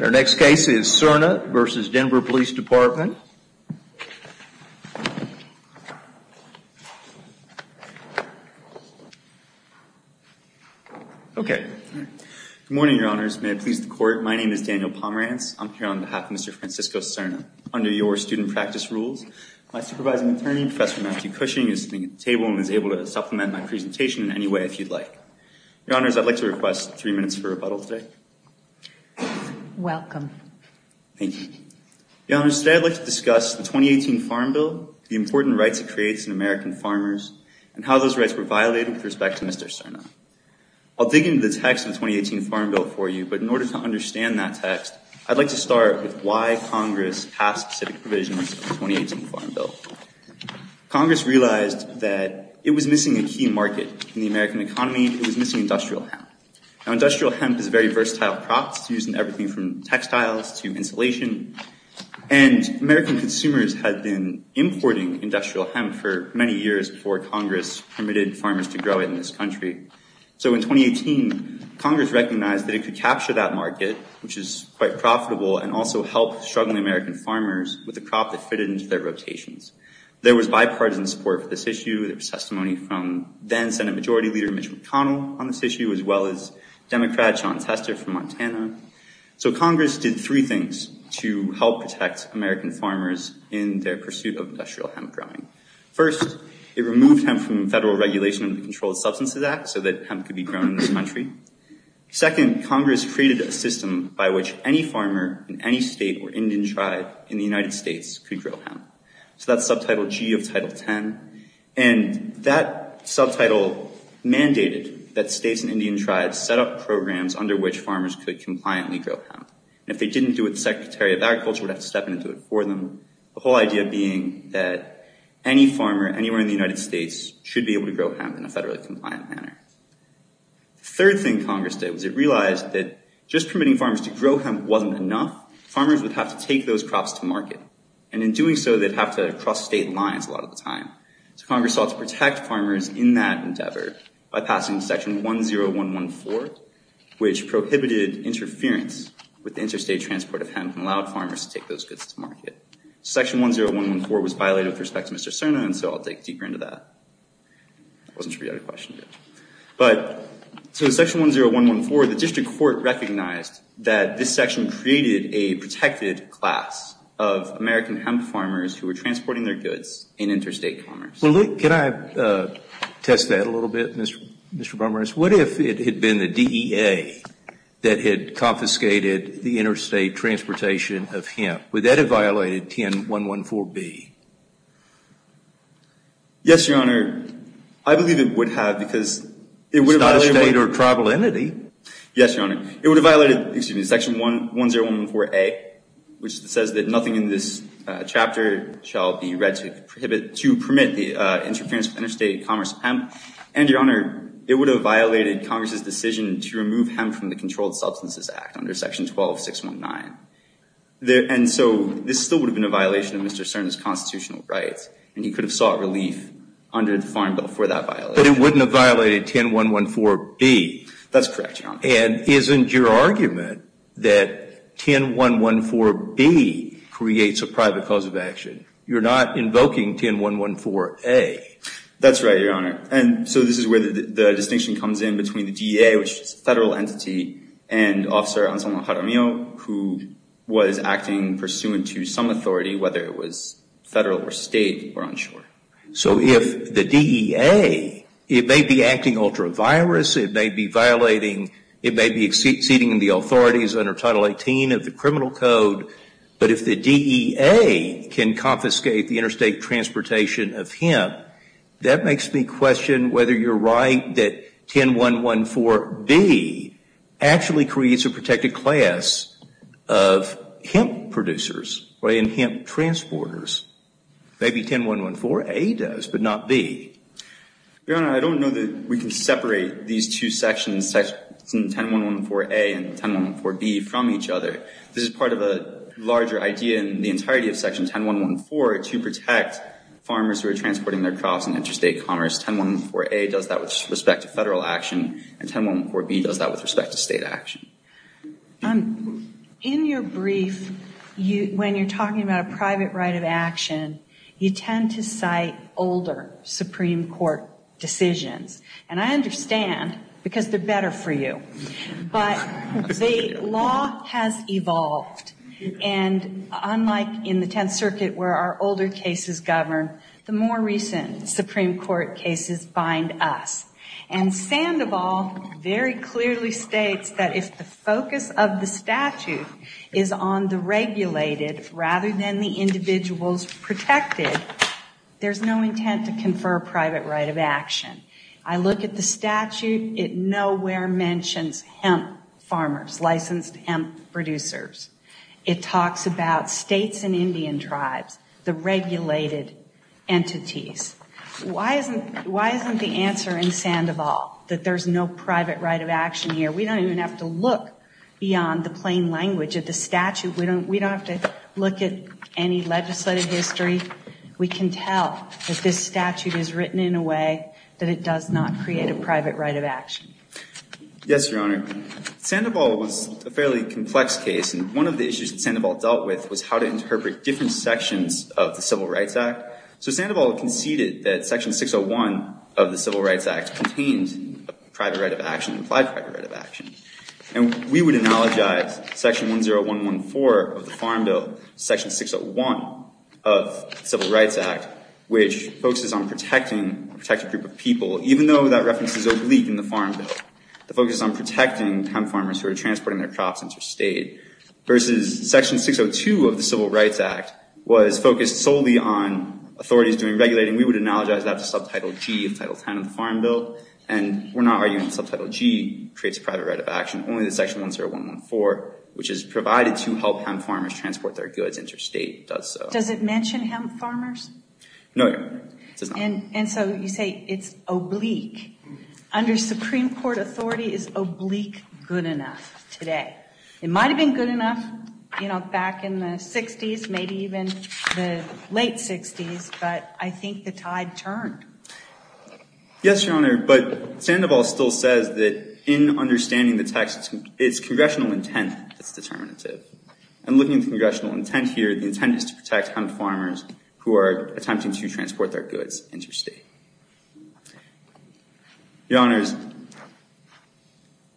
Our next case is Cerna v. Denver Police Department. Okay. Good morning, your honors. May it please the court, my name is Daniel Pomerantz. I'm here on behalf of Mr. Francisco Cerna. Under your student practice rules, my supervising attorney, Professor Matthew Cushing, is sitting at the table and is able to supplement my presentation in any way if you'd like. Your honors, I'd like to request three minutes for rebuttal today. Welcome. Thank you. Your honors, today I'd like to discuss the 2018 Farm Bill, the important rights it creates in American farmers, and how those rights were violated with respect to Mr. Cerna. I'll dig into the text of the 2018 Farm Bill for you, but in order to understand that text, I'd like to start with why Congress passed specific provisions of the 2018 Farm Bill. Congress realized that it was missing a key market in the American economy. It was missing industrial hemp. Now, industrial hemp is a very versatile crop. It's used in everything from textiles to insulation. And American consumers had been importing industrial hemp for many years before Congress permitted farmers to grow it in this country. So in 2018, Congress recognized that it could capture that market, which is quite profitable, and also help struggling American farmers with a crop that fitted into their rotations. There was bipartisan support for this issue. There was testimony from then Senate Majority Leader Mitch McConnell on this issue, as well as Democrat Sean Tester from Montana. So Congress did three things to help protect American farmers in their pursuit of industrial hemp growing. First, it removed hemp from federal regulation of the Controlled Substances Act so that hemp could be grown in this country. Second, Congress created a system by which any farmer in any state or Indian tribe in the United States could grow hemp. So that's subtitle G of Title 10. And that subtitle mandated that states and Indian tribes set up programs under which farmers could compliantly grow hemp. And if they didn't do it, the Secretary of Agriculture would have to step in and do it for them. The whole idea being that any farmer anywhere in the United States should be able to grow hemp in a federally compliant manner. The third thing Congress did was it realized that just permitting farmers to grow hemp wasn't enough. Farmers would have to take those crops to market. And in doing so, they'd have to cross state lines a lot of the time. So Congress sought to protect farmers in that endeavor by passing Section 10114, which prohibited interference with interstate transport of hemp and allowed farmers to take those goods to market. Section 10114 was violated with respect to Mr. Cerna, and so I'll dig deeper into that. Wasn't sure you had a question yet. So Section 10114, the district court recognized that this section created a protected class of American hemp farmers who were transporting their goods in interstate commerce. Well, can I test that a little bit, Mr. Bumrus? What if it had been the DEA that had confiscated the interstate transportation of hemp? Would that have violated 10114B? Yes, Your Honor. I believe it would have, because it would have violated— It's not a state or tribal entity. Yes, Your Honor. It would have violated, excuse me, Section 10114A, which says that nothing in this chapter shall be read to permit the interference with interstate commerce of hemp. And, Your Honor, it would have violated Congress's decision to remove hemp from the Controlled Substances Act under Section 12619. And so this still would have been a violation of Mr. Cerna's constitutional rights, and he could have sought relief under the Farm Bill for that violation. But it wouldn't have violated 10114B. That's correct, Your Honor. And isn't your argument that 10114B creates a private cause of action? You're not invoking 10114A. That's right, Your Honor. And so this is where the distinction comes in between the DEA, which is a federal entity, and Officer Anselmo Jaramillo, who was acting pursuant to some authority, whether it was federal or state, we're unsure. So if the DEA, it may be acting ultra-virus, it may be violating, it may be exceeding the authorities under Title 18 of the Criminal Code, but if the DEA can confiscate the interstate transportation of hemp, that makes me question whether you're right that 10114B actually creates a protected class of hemp producers and hemp transporters. Maybe 10114A does, but not B. Your Honor, I don't know that we can separate these two sections, Section 10114A and 10114B, from each other. This is part of a larger idea in the entirety of Section 10114 to protect farmers who are transporting their crops in interstate commerce. 10114A does that with respect to federal action, and 10114B does that with respect to state action. In your brief, when you're talking about a private right of action, you tend to cite older Supreme Court decisions. And I understand, because they're better for you. But the law has evolved. And unlike in the Tenth Circuit, where our older cases govern, the more recent Supreme Court cases bind us. And Sandoval very clearly states that if the focus of the statute is on the regulated, rather than the individuals protected, there's no intent to confer a private right of action. I look at the statute, it nowhere mentions hemp farmers, licensed hemp producers. It talks about states and Indian tribes, the regulated entities. Why isn't the answer in Sandoval that there's no private right of action here? We don't even have to look beyond the plain language of the statute. We don't have to look at any legislative history. We can tell that this statute is written in a way that it does not create a private right of action. Yes, Your Honor. Sandoval was a fairly complex case. And one of the issues that Sandoval dealt with was how to interpret different sections of the Civil Rights Act. So Sandoval conceded that Section 601 of the Civil Rights Act contained a private right of action, implied private right of action. And we would analogize Section 10114 of the Farm Bill to Section 601 of the Civil Rights Act, which focuses on protecting a protected group of people, even though that reference is oblique in the Farm Bill. The focus is on protecting hemp farmers who are transporting their crops interstate, versus Section 602 of the Civil Rights Act was focused solely on authorities doing regulating. We would analogize that to Subtitle G of Title X of the Farm Bill. And we're not arguing that Subtitle G creates a private right of action. Only that Section 10114, which is provided to help hemp farmers transport their goods interstate, does so. Does it mention hemp farmers? No, Your Honor. And so you say it's oblique. Under Supreme Court authority, is oblique good enough today? It might have been good enough, you know, back in the 60s, maybe even the late 60s. But I think the tide turned. Yes, Your Honor. But Sandoval still says that in understanding the text, it's congressional intent that's determinative. And looking at the congressional intent here, the intent is to protect hemp farmers who are attempting to transport their goods interstate. Your Honors,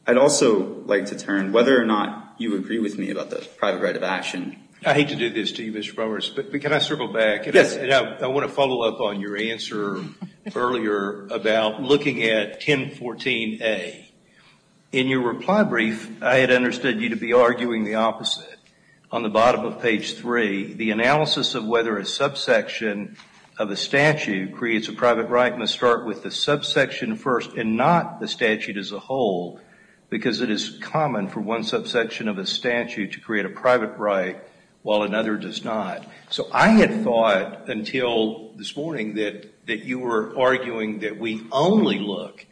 I'd also like to turn, whether or not you agree with me about the private right of action. I hate to do this to you, Mr. Roberts, but can I circle back? Yes. And I want to follow up on your answer earlier about looking at 1014A. In your reply brief, I had understood you to be arguing the opposite. On the bottom of page 3, the analysis of whether a subsection of a statute creates a private right must start with the subsection first and not the statute as a whole, because it is common for one subsection of a statute to create a private right while another does not. So I had thought until this morning that you were arguing that we only look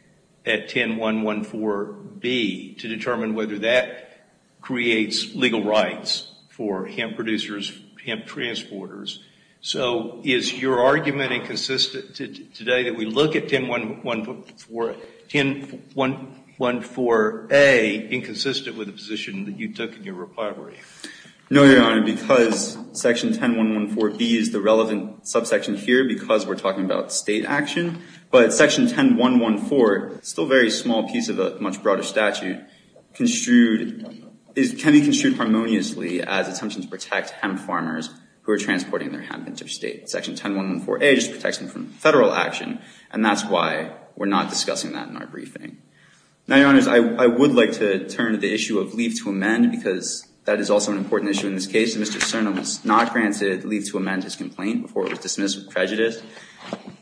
at 10114B to determine whether that creates legal rights for hemp producers, hemp transporters. So is your argument inconsistent today that we look at 10114A inconsistent with the position that you took in your reply brief? No, Your Honor, because section 10114B is the relevant subsection here because we're talking about state action. But section 10114, still a very small piece of a much broader statute, can be construed harmoniously as an attempt to protect hemp farmers who are transporting their hemp interstate. Section 10114A just protects them from federal action, and that's why we're not discussing that in our briefing. Now, Your Honors, I would like to turn to the issue of leave to amend, because that is also an important issue in this case. Mr. Cerna was not granted leave to amend his complaint before it was dismissed with prejudice.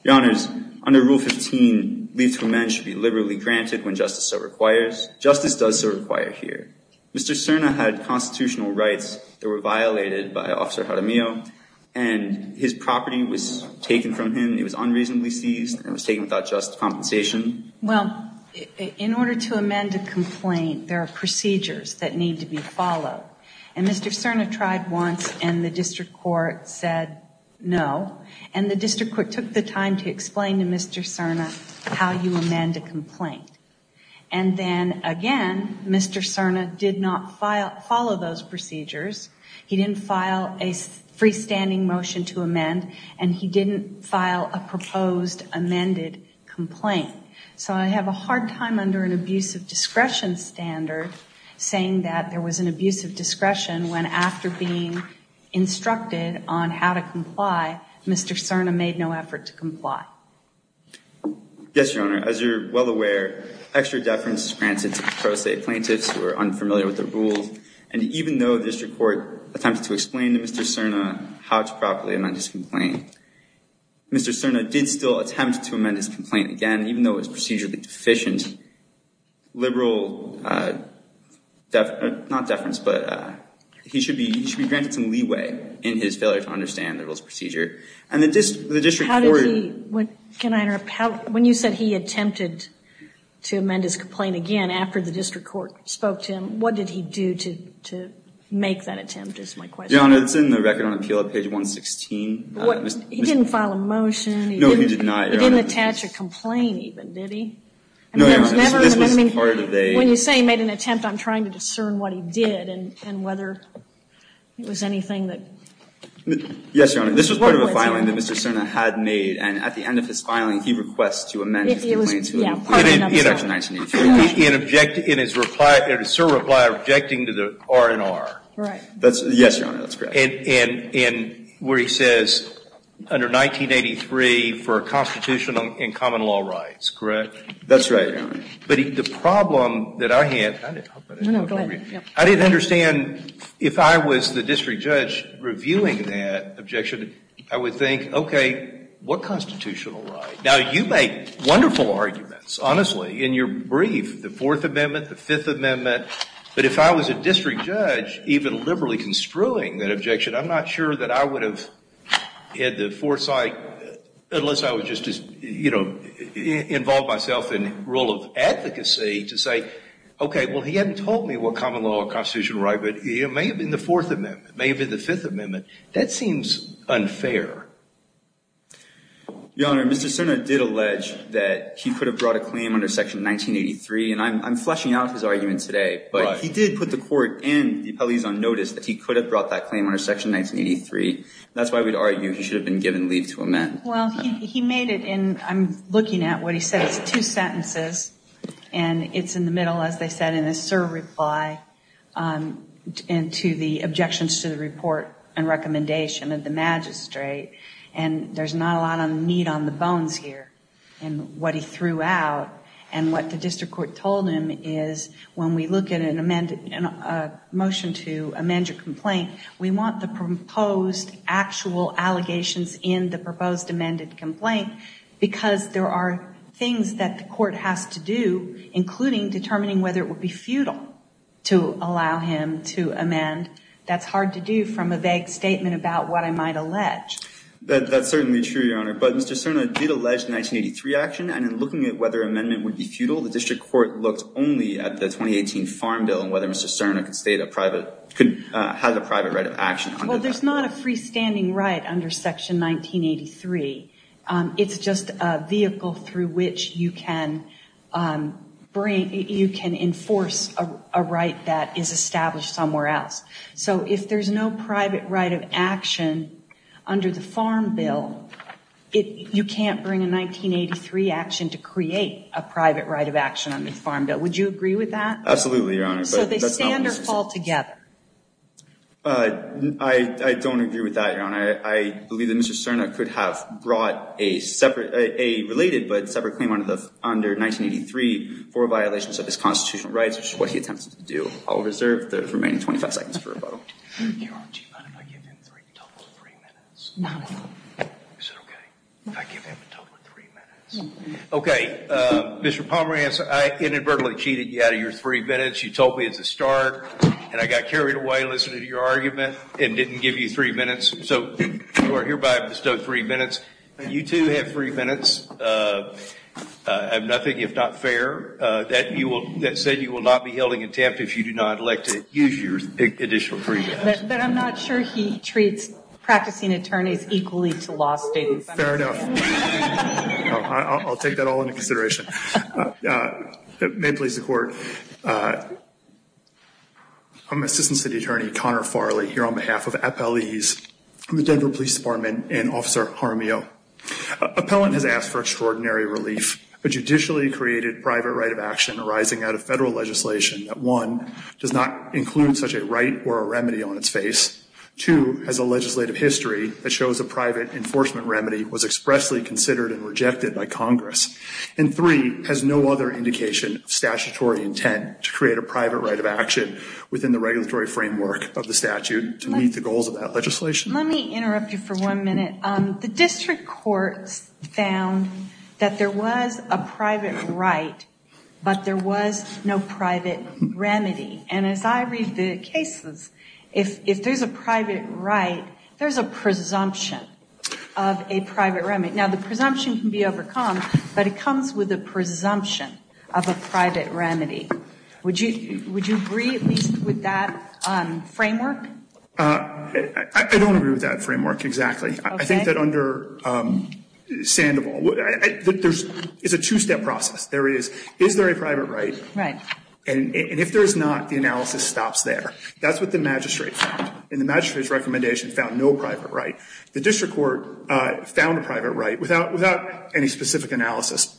Your Honors, under Rule 15, leave to amend should be liberally granted when justice so requires. Justice does so require here. Mr. Cerna had constitutional rights that were violated by Officer Jaramillo, and his property was taken from him. It was unreasonably seized, and it was taken without just compensation. Well, in order to amend a complaint, there are procedures that need to be followed. And Mr. Cerna tried once, and the district court said no. And the district court took the time to explain to Mr. Cerna how you amend a complaint. And then, again, Mr. Cerna did not follow those procedures. He didn't file a freestanding motion to amend, and he didn't file a proposed amended complaint. So I have a hard time under an abuse of discretion standard saying that there was an abuse of discretion when, after being instructed on how to comply, Mr. Cerna made no effort to comply. Yes, Your Honor. As you're well aware, extra deference is granted to pro se plaintiffs who are unfamiliar with the rules. And even though the district court attempted to explain to Mr. Cerna how to properly amend his complaint, Mr. Cerna did still attempt to amend his complaint again, even though it was procedurally deficient. Liberal, not deference, but he should be granted some leeway in his failure to understand the rules of procedure. And the district court— How did he—can I interrupt? When you said he attempted to amend his complaint again after the district court spoke to him, what did he do to make that attempt is my question. Your Honor, it's in the Record on Appeal at page 116. He didn't file a motion. No, he did not, Your Honor. He didn't attach a complaint even, did he? No, Your Honor. This was part of a— When you say he made an attempt, I'm trying to discern what he did and whether it was anything that— Yes, Your Honor. This was part of a filing that Mr. Cerna had made. And at the end of his filing, he requests to amend his complaint to— It was, yeah, part of another filing. In his reply, Mr. Cerna replied objecting to the R&R. Right. Yes, Your Honor, that's correct. And where he says, under 1983, for constitutional and common law rights, correct? That's right, Your Honor. But the problem that I had— No, no, go ahead. I didn't understand if I was the district judge reviewing that objection, I would think, okay, what constitutional right? Now, you make wonderful arguments, honestly, in your brief, the Fourth Amendment, the Fifth Amendment. But if I was a district judge, even liberally construing that objection, I'm not sure that I would have had the foresight, unless I was just, you know, involved myself in rule of advocacy, to say, okay, well, he hadn't told me what common law or constitutional right, but it may have been the Fourth Amendment, may have been the Fifth Amendment. That seems unfair. Your Honor, Mr. Cerna did allege that he could have brought a claim under Section 1983. And I'm fleshing out his argument today. But he did put the court and the appellees on notice that he could have brought that claim under Section 1983. That's why we'd argue he should have been given leave to amend. Well, he made it in—I'm looking at what he said. It's two sentences. And it's in the middle, as they said, in a serve reply to the objections to the report and recommendation of the magistrate. And there's not a lot of meat on the bones here in what he threw out. And what the district court told him is, when we look at a motion to amend your complaint, we want the proposed actual allegations in the proposed amended complaint, because there are things that the court has to do, including determining whether it would be futile to allow him to amend. That's hard to do from a vague statement about what I might allege. That's certainly true, Your Honor. But Mr. Cerna did allege the 1983 action. And in looking at whether amendment would be futile, the district court looked only at the 2018 Farm Bill and whether Mr. Cerna could state a private—could have a private right of action. Well, there's not a freestanding right under Section 1983. It's just a vehicle through which you can bring—you can enforce a right that is established somewhere else. So if there's no private right of action under the Farm Bill, you can't bring a 1983 action to create a private right of action under the Farm Bill. Would you agree with that? Absolutely, Your Honor. So they stand or fall together? I don't agree with that, Your Honor. I believe that Mr. Cerna could have brought a separate—a related but separate claim under 1983 for violations of his constitutional rights, which is what he attempted to do. I'll reserve the remaining 25 seconds for rebuttal. Your Honor, do you mind if I give him a total of three minutes? No. Is that okay? If I give him a total of three minutes? Okay. Mr. Pomerantz, I inadvertently cheated you out of your three minutes. You told me it's a start. And I got carried away listening to your argument and didn't give you three minutes. So you are hereby bestowed three minutes. You, too, have three minutes of nothing if not fair. That said, you will not be held in contempt if you do not elect to use your additional three minutes. But I'm not sure he treats practicing attorneys equally to law students. Fair enough. I'll take that all into consideration. May it please the Court, I'm Assistant City Attorney Connor Farley here on behalf of appellees from the Denver Police Department and Officer Jaramillo. Appellant has asked for extraordinary relief. A judicially created private right of action arising out of federal legislation that, one, does not include such a right or a remedy on its face, two, has a legislative history that shows a private enforcement remedy was expressly considered and rejected by Congress, and three, has no other indication of statutory intent to create a private right of action within the regulatory framework of the statute to meet the goals of that legislation. Let me interrupt you for one minute. The district courts found that there was a private right, but there was no private remedy. And as I read the cases, if there's a private right, there's a presumption of a private remedy. Now, the presumption can be overcome, but it comes with a presumption of a private remedy. Would you agree at least with that framework? I don't agree with that framework exactly. I think that under Sandoval, there's a two-step process. There is, is there a private right? Right. And if there is not, the analysis stops there. That's what the magistrate found. And the magistrate's recommendation found no private right. The district court found a private right without any specific analysis.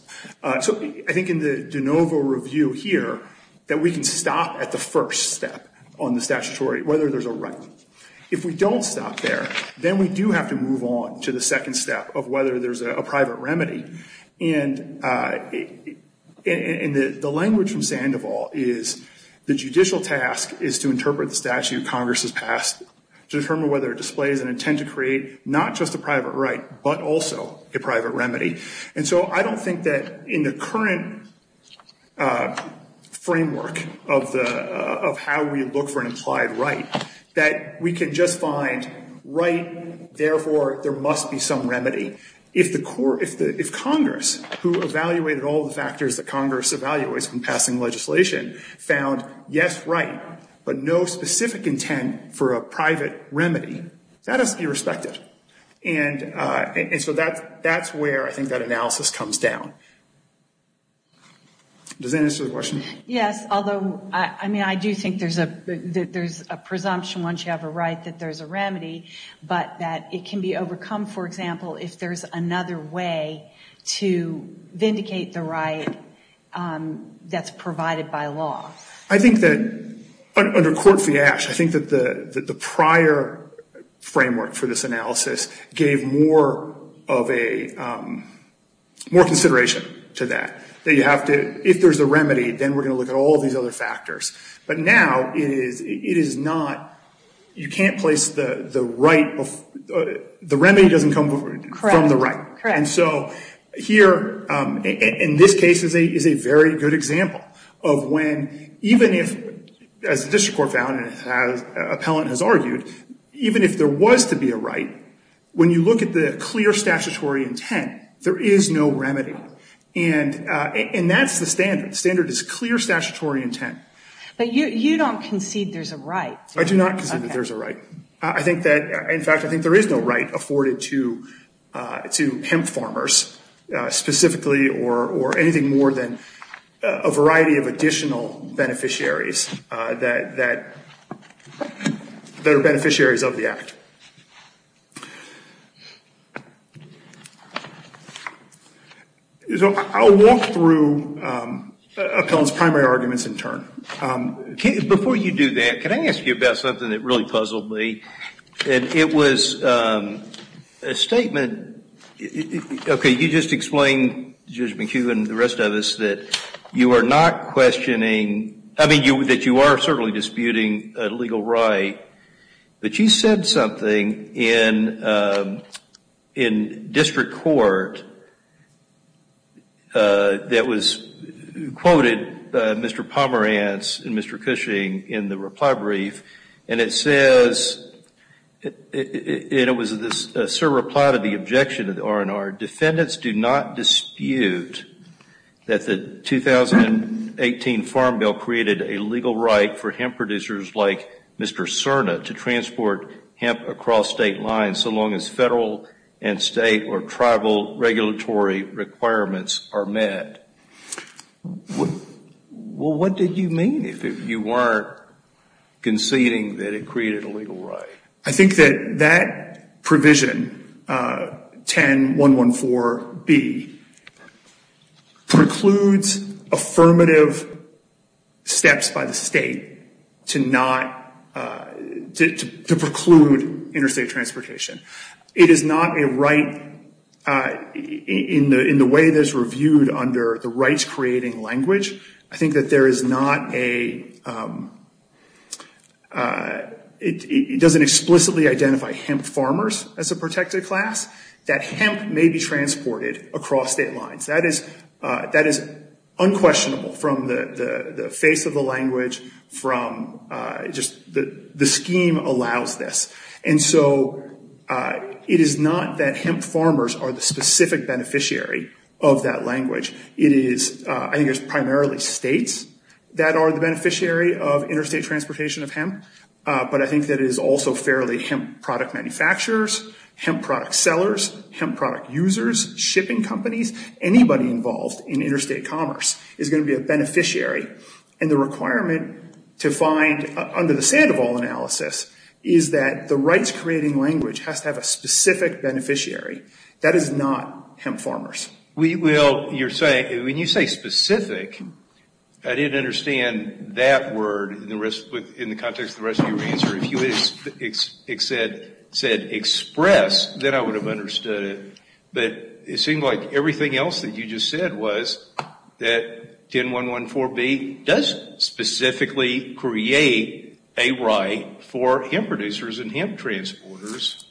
So I think in the de novo review here that we can stop at the first step on the statutory, whether there's a right. If we don't stop there, then we do have to move on to the second step of whether there's a private remedy. And the language from Sandoval is the judicial task is to interpret the statute Congress has passed to determine whether it displays an intent to create not just a private right, but also a private remedy. And so I don't think that in the current framework of the, of how we look for an implied right, that we can just find right, therefore there must be some remedy. If Congress, who evaluated all the factors that Congress evaluates in passing legislation, found yes, right, but no specific intent for a private remedy, that is irrespective. And so that's where I think that analysis comes down. Does that answer the question? Yes, although, I mean, I do think there's a presumption once you have a right that there's a remedy, but that it can be overcome, for example, if there's another way to vindicate the right that's provided by law. I think that under court fiasco, I think that the prior framework for this analysis gave more of a, more consideration to that, that you have to, if there's a remedy, then we're going to look at all these other factors. But now it is, it is not, you can't place the right, the remedy doesn't come from the right. And so here, in this case, is a very good example of when, even if, as the district court found, and as an appellant has argued, even if there was to be a right, when you look at the clear statutory intent, there is no remedy. And that's the standard. The standard is clear statutory intent. But you don't concede there's a right. I do not concede that there's a right. I think that, in fact, I think there is no right afforded to hemp farmers specifically or anything more than a variety of additional beneficiaries that are beneficiaries of the act. So I'll walk through appellant's primary arguments in turn. Before you do that, can I ask you about something that really puzzled me? It was a statement, okay, you just explained, Judge McHugh and the rest of us, that you are not questioning, I mean, that you are certainly disputing a legal right. But you said something in district court that was quoted by Mr. Pomerantz and Mr. Cushing in the reply brief. And it says, and it was a reply to the objection of the R&R, defendants do not dispute that the 2018 Farm Bill created a legal right for hemp producers like Mr. Cerna to transport hemp across state lines so long as federal and state or tribal regulatory requirements are met. Well, what did you mean if you were conceding that it created a legal right? I think that that provision, 10114B, precludes affirmative steps by the state to preclude interstate transportation. It is not a right, in the way that it's reviewed under the rights-creating language, I think that there is not a, it doesn't explicitly identify hemp farmers as a protected class, that hemp may be transported across state lines. That is unquestionable from the face of the language, from just, the scheme allows this. And so it is not that hemp farmers are the specific beneficiary of that language. It is, I think it's primarily states that are the beneficiary of interstate transportation of hemp, but I think that it is also fairly hemp product manufacturers, hemp product sellers, hemp product users, shipping companies, anybody involved in interstate commerce is going to be a beneficiary. And the requirement to find, under the sand of all analysis, is that the rights-creating language has to have a specific beneficiary. That is not hemp farmers. Well, you're saying, when you say specific, I didn't understand that word in the context of the rest of your answer. If you had said express, then I would have understood it. But it seemed like everything else that you just said was that 10.1.1.4.B. does specifically create a right for hemp producers and hemp transporters.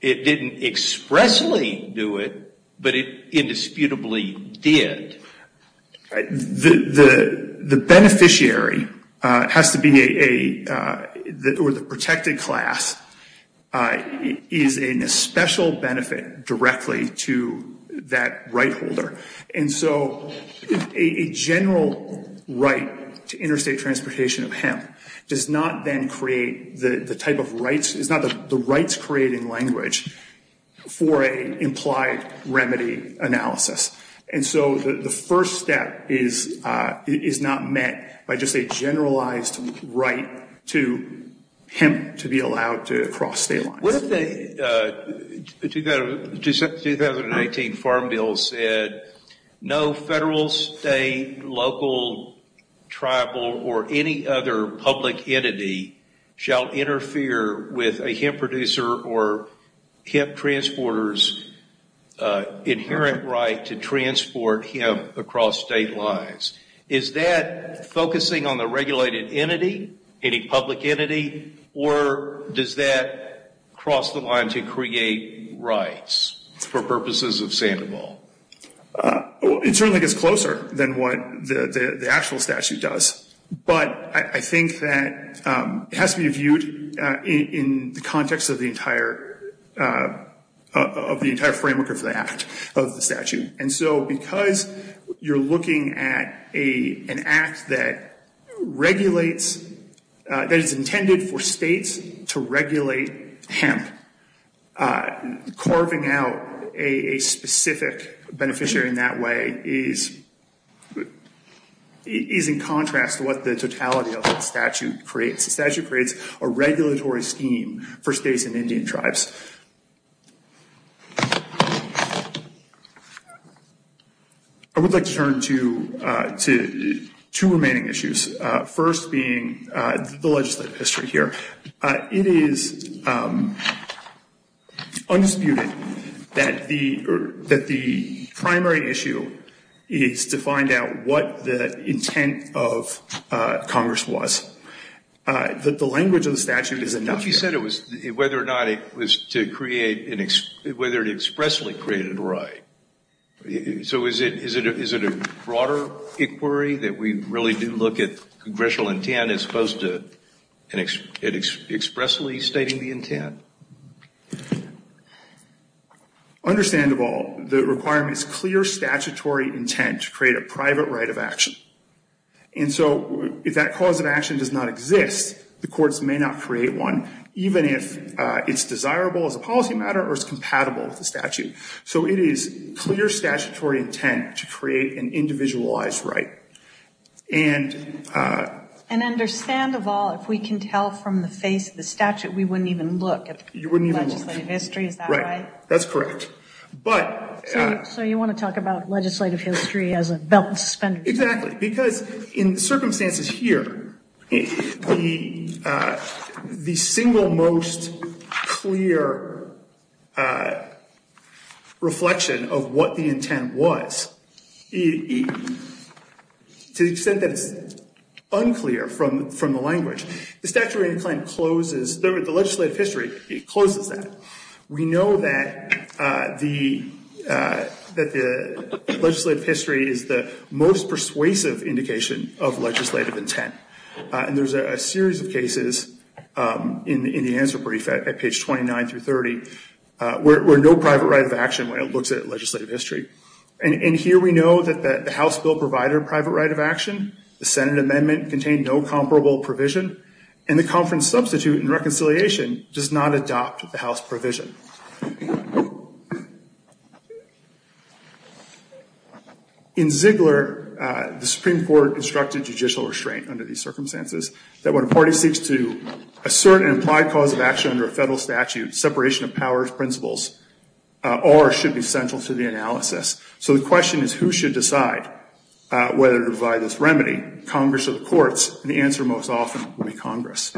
It didn't expressly do it, but it indisputably did. The beneficiary has to be a, or the protected class, is in a special benefit directly to that right holder. And so a general right to interstate transportation of hemp does not then create the type of rights, it's not the rights-creating language for an implied remedy analysis. And so the first step is not met by just a generalized right to hemp to be allowed to cross state lines. What if the 2019 Farm Bill said, no federal, state, local, tribal, or any other public entity shall interfere with a hemp producer or hemp transporter's inherent right to transport hemp across state lines? Is that focusing on the regulated entity, any public entity, or does that cross the line to create rights for purposes of Sandoval? It certainly gets closer than what the actual statute does. But I think that it has to be viewed in the context of the entire framework of the act, of the statute. And so because you're looking at an act that regulates, that is intended for states to regulate hemp, carving out a specific beneficiary in that way is in contrast to what the totality of the statute creates. The statute creates a regulatory scheme for states and Indian tribes. I would like to turn to two remaining issues. First being the legislative history here. It is undisputed that the primary issue is to find out what the intent of Congress was. The language of the statute is enough. But you said it was whether or not it was to create, whether it expressly created a right. So is it a broader inquiry that we really do look at congressional intent as opposed to expressly stating the intent? Understandable. The requirement is clear statutory intent to create a private right of action. And so if that cause of action does not exist, the courts may not create one, even if it's desirable as a policy matter or it's compatible with the statute. So it is clear statutory intent to create an individualized right. And understand of all, if we can tell from the face of the statute, we wouldn't even look at legislative history. Is that right? That's correct. So you want to talk about legislative history as a belt and suspenders? Exactly. Because in the circumstances here, the single most clear reflection of what the intent was, to the extent that it's unclear from the language, the statutory claim closes, the legislative history, it closes that. We know that the legislative history is the most persuasive indication of legislative intent. And there's a series of cases in the answer brief at page 29 through 30, where no private right of action when it looks at legislative history. And here we know that the House bill provided a private right of action, the Senate amendment contained no comparable provision, and the conference substitute in reconciliation does not adopt the House provision. In Ziegler, the Supreme Court instructed judicial restraint under these circumstances, that when a party seeks to assert an implied cause of action under a federal statute, separation of powers, principles, or should be central to the analysis. So the question is, who should decide whether to provide this remedy, Congress or the courts? And the answer most often will be Congress.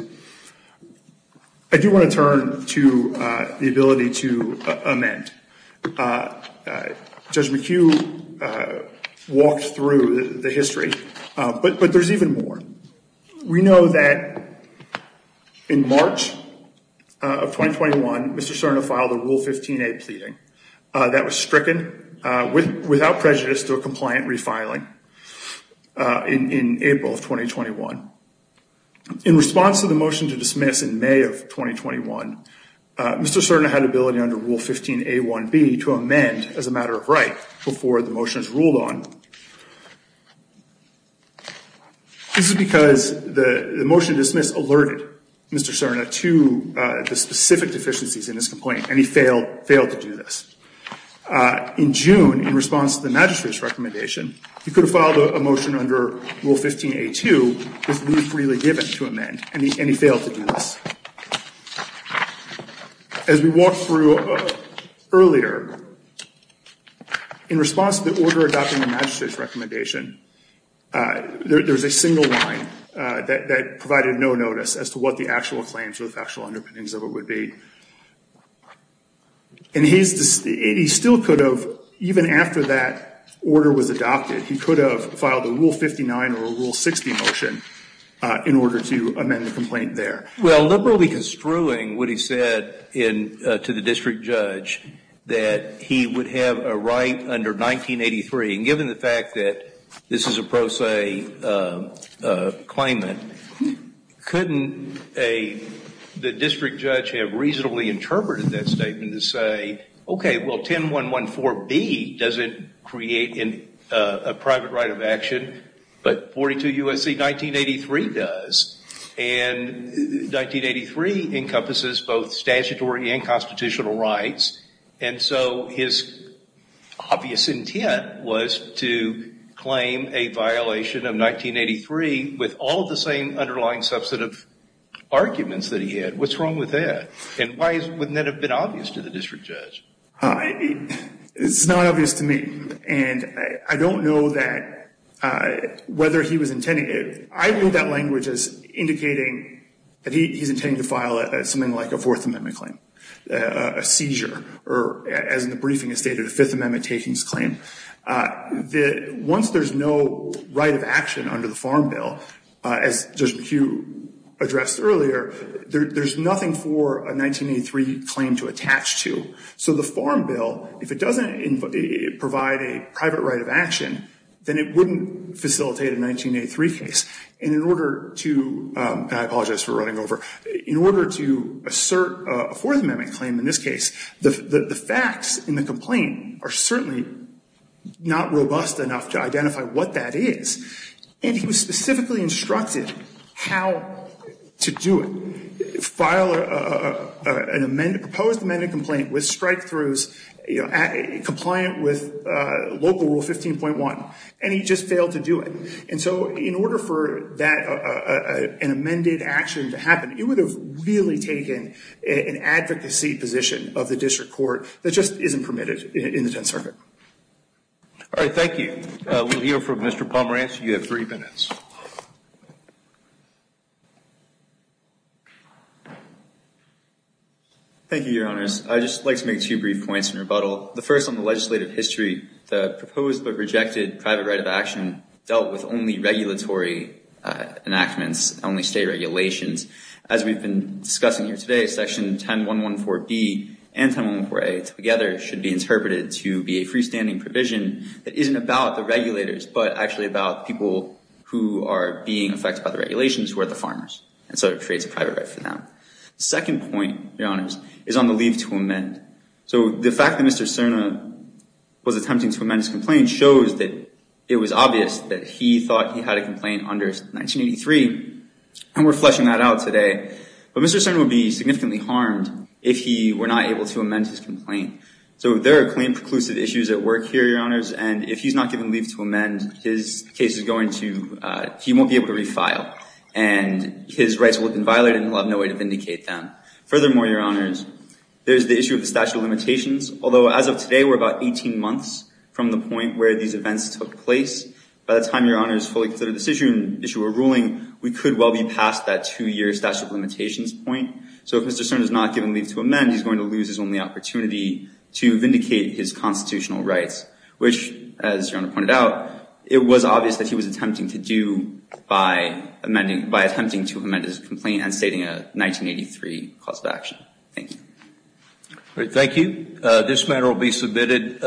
I do want to turn to the ability to amend. Judge McHugh walked through the history, but there's even more. We know that in March of 2021, Mr. Cerna filed a Rule 15a pleading. That was stricken without prejudice to a compliant refiling in April of 2021. In response to the motion to dismiss in May of 2021, Mr. Cerna had ability under Rule 15a1b to amend as a matter of right before the motion is ruled on. This is because the motion to dismiss alerted Mr. Cerna to the specific deficiencies in his complaint, and he failed to do this. In June, in response to the magistrate's recommendation, he could have filed a motion under Rule 15a2 with leave freely given to amend, and he failed to do this. As we walked through earlier, in response to the order adopting the magistrate's recommendation, there's a single line that provided no notice as to what the actual claims or the factual underpinnings of it would be. And he still could have, even after that order was adopted, he could have filed a Rule 59 or a Rule 60 motion in order to amend the complaint there. Well, liberally construing what he said to the district judge that he would have a right under 1983, and given the fact that this is a pro se claimant, couldn't the district judge have reasonably interpreted that statement to say, okay, well, 10114B doesn't create a private right of action, but 42 U.S.C. 1983 does. And 1983 encompasses both statutory and constitutional rights, and so his obvious intent was to claim a violation of 1983 with all of the same underlying substantive arguments that he had. What's wrong with that? And why wouldn't that have been obvious to the district judge? It's not obvious to me, and I don't know that whether he was intending it. I read that language as indicating that he's intending to file something like a Fourth Amendment claim, a seizure, or as the briefing has stated, a Fifth Amendment takings claim, that once there's no right of action under the Farm Bill, as Judge McHugh addressed earlier, there's nothing for a 1983 claim to attach to. So the Farm Bill, if it doesn't provide a private right of action, then it wouldn't facilitate a 1983 case. And in order to, and I apologize for running over, in order to assert a Fourth Amendment claim in this case, the facts in the complaint are certainly not robust enough to identify what that is. And he was specifically instructed how to do it, file a proposed amended complaint with strike-throughs compliant with local rule 15.1, and he just failed to do it. And so in order for an amended action to happen, it would have really taken an advocacy position of the district court that just isn't permitted in the Tenth Circuit. All right, thank you. We'll hear from Mr. Pomerantz. You have three minutes. Thank you, Your Honors. I'd just like to make two brief points in rebuttal. The first on the legislative history, the proposed but rejected private right of action dealt with only regulatory enactments, only state regulations. As we've been discussing here today, Section 10.114B and 10.114A together should be interpreted to be a freestanding provision that isn't about the regulators but actually about people who are being affected by the regulations who are the farmers. And so it creates a private right for them. The second point, Your Honors, is on the leave to amend. So the fact that Mr. Cerna was attempting to amend his complaint shows that it was obvious that he thought he had a complaint under 1983, and we're fleshing that out today. But Mr. Cerna would be significantly harmed if he were not able to amend his complaint. So there are claim preclusive issues at work here, Your Honors, and if he's not given leave to amend, his case is going to – he won't be able to refile, and his rights will have been violated, and he'll have no way to vindicate them. Furthermore, Your Honors, there's the issue of the statute of limitations. Although as of today, we're about 18 months from the point where these events took place, by the time Your Honors fully consider this issue and issue a ruling, we could well be past that two-year statute of limitations point. So if Mr. Cerna's not given leave to amend, he's going to lose his only opportunity to vindicate his constitutional rights, which, as Your Honor pointed out, it was obvious that he was attempting to do by amending – advocating a 1983 cause of action. Thank you. Thank you. This matter will be submitted.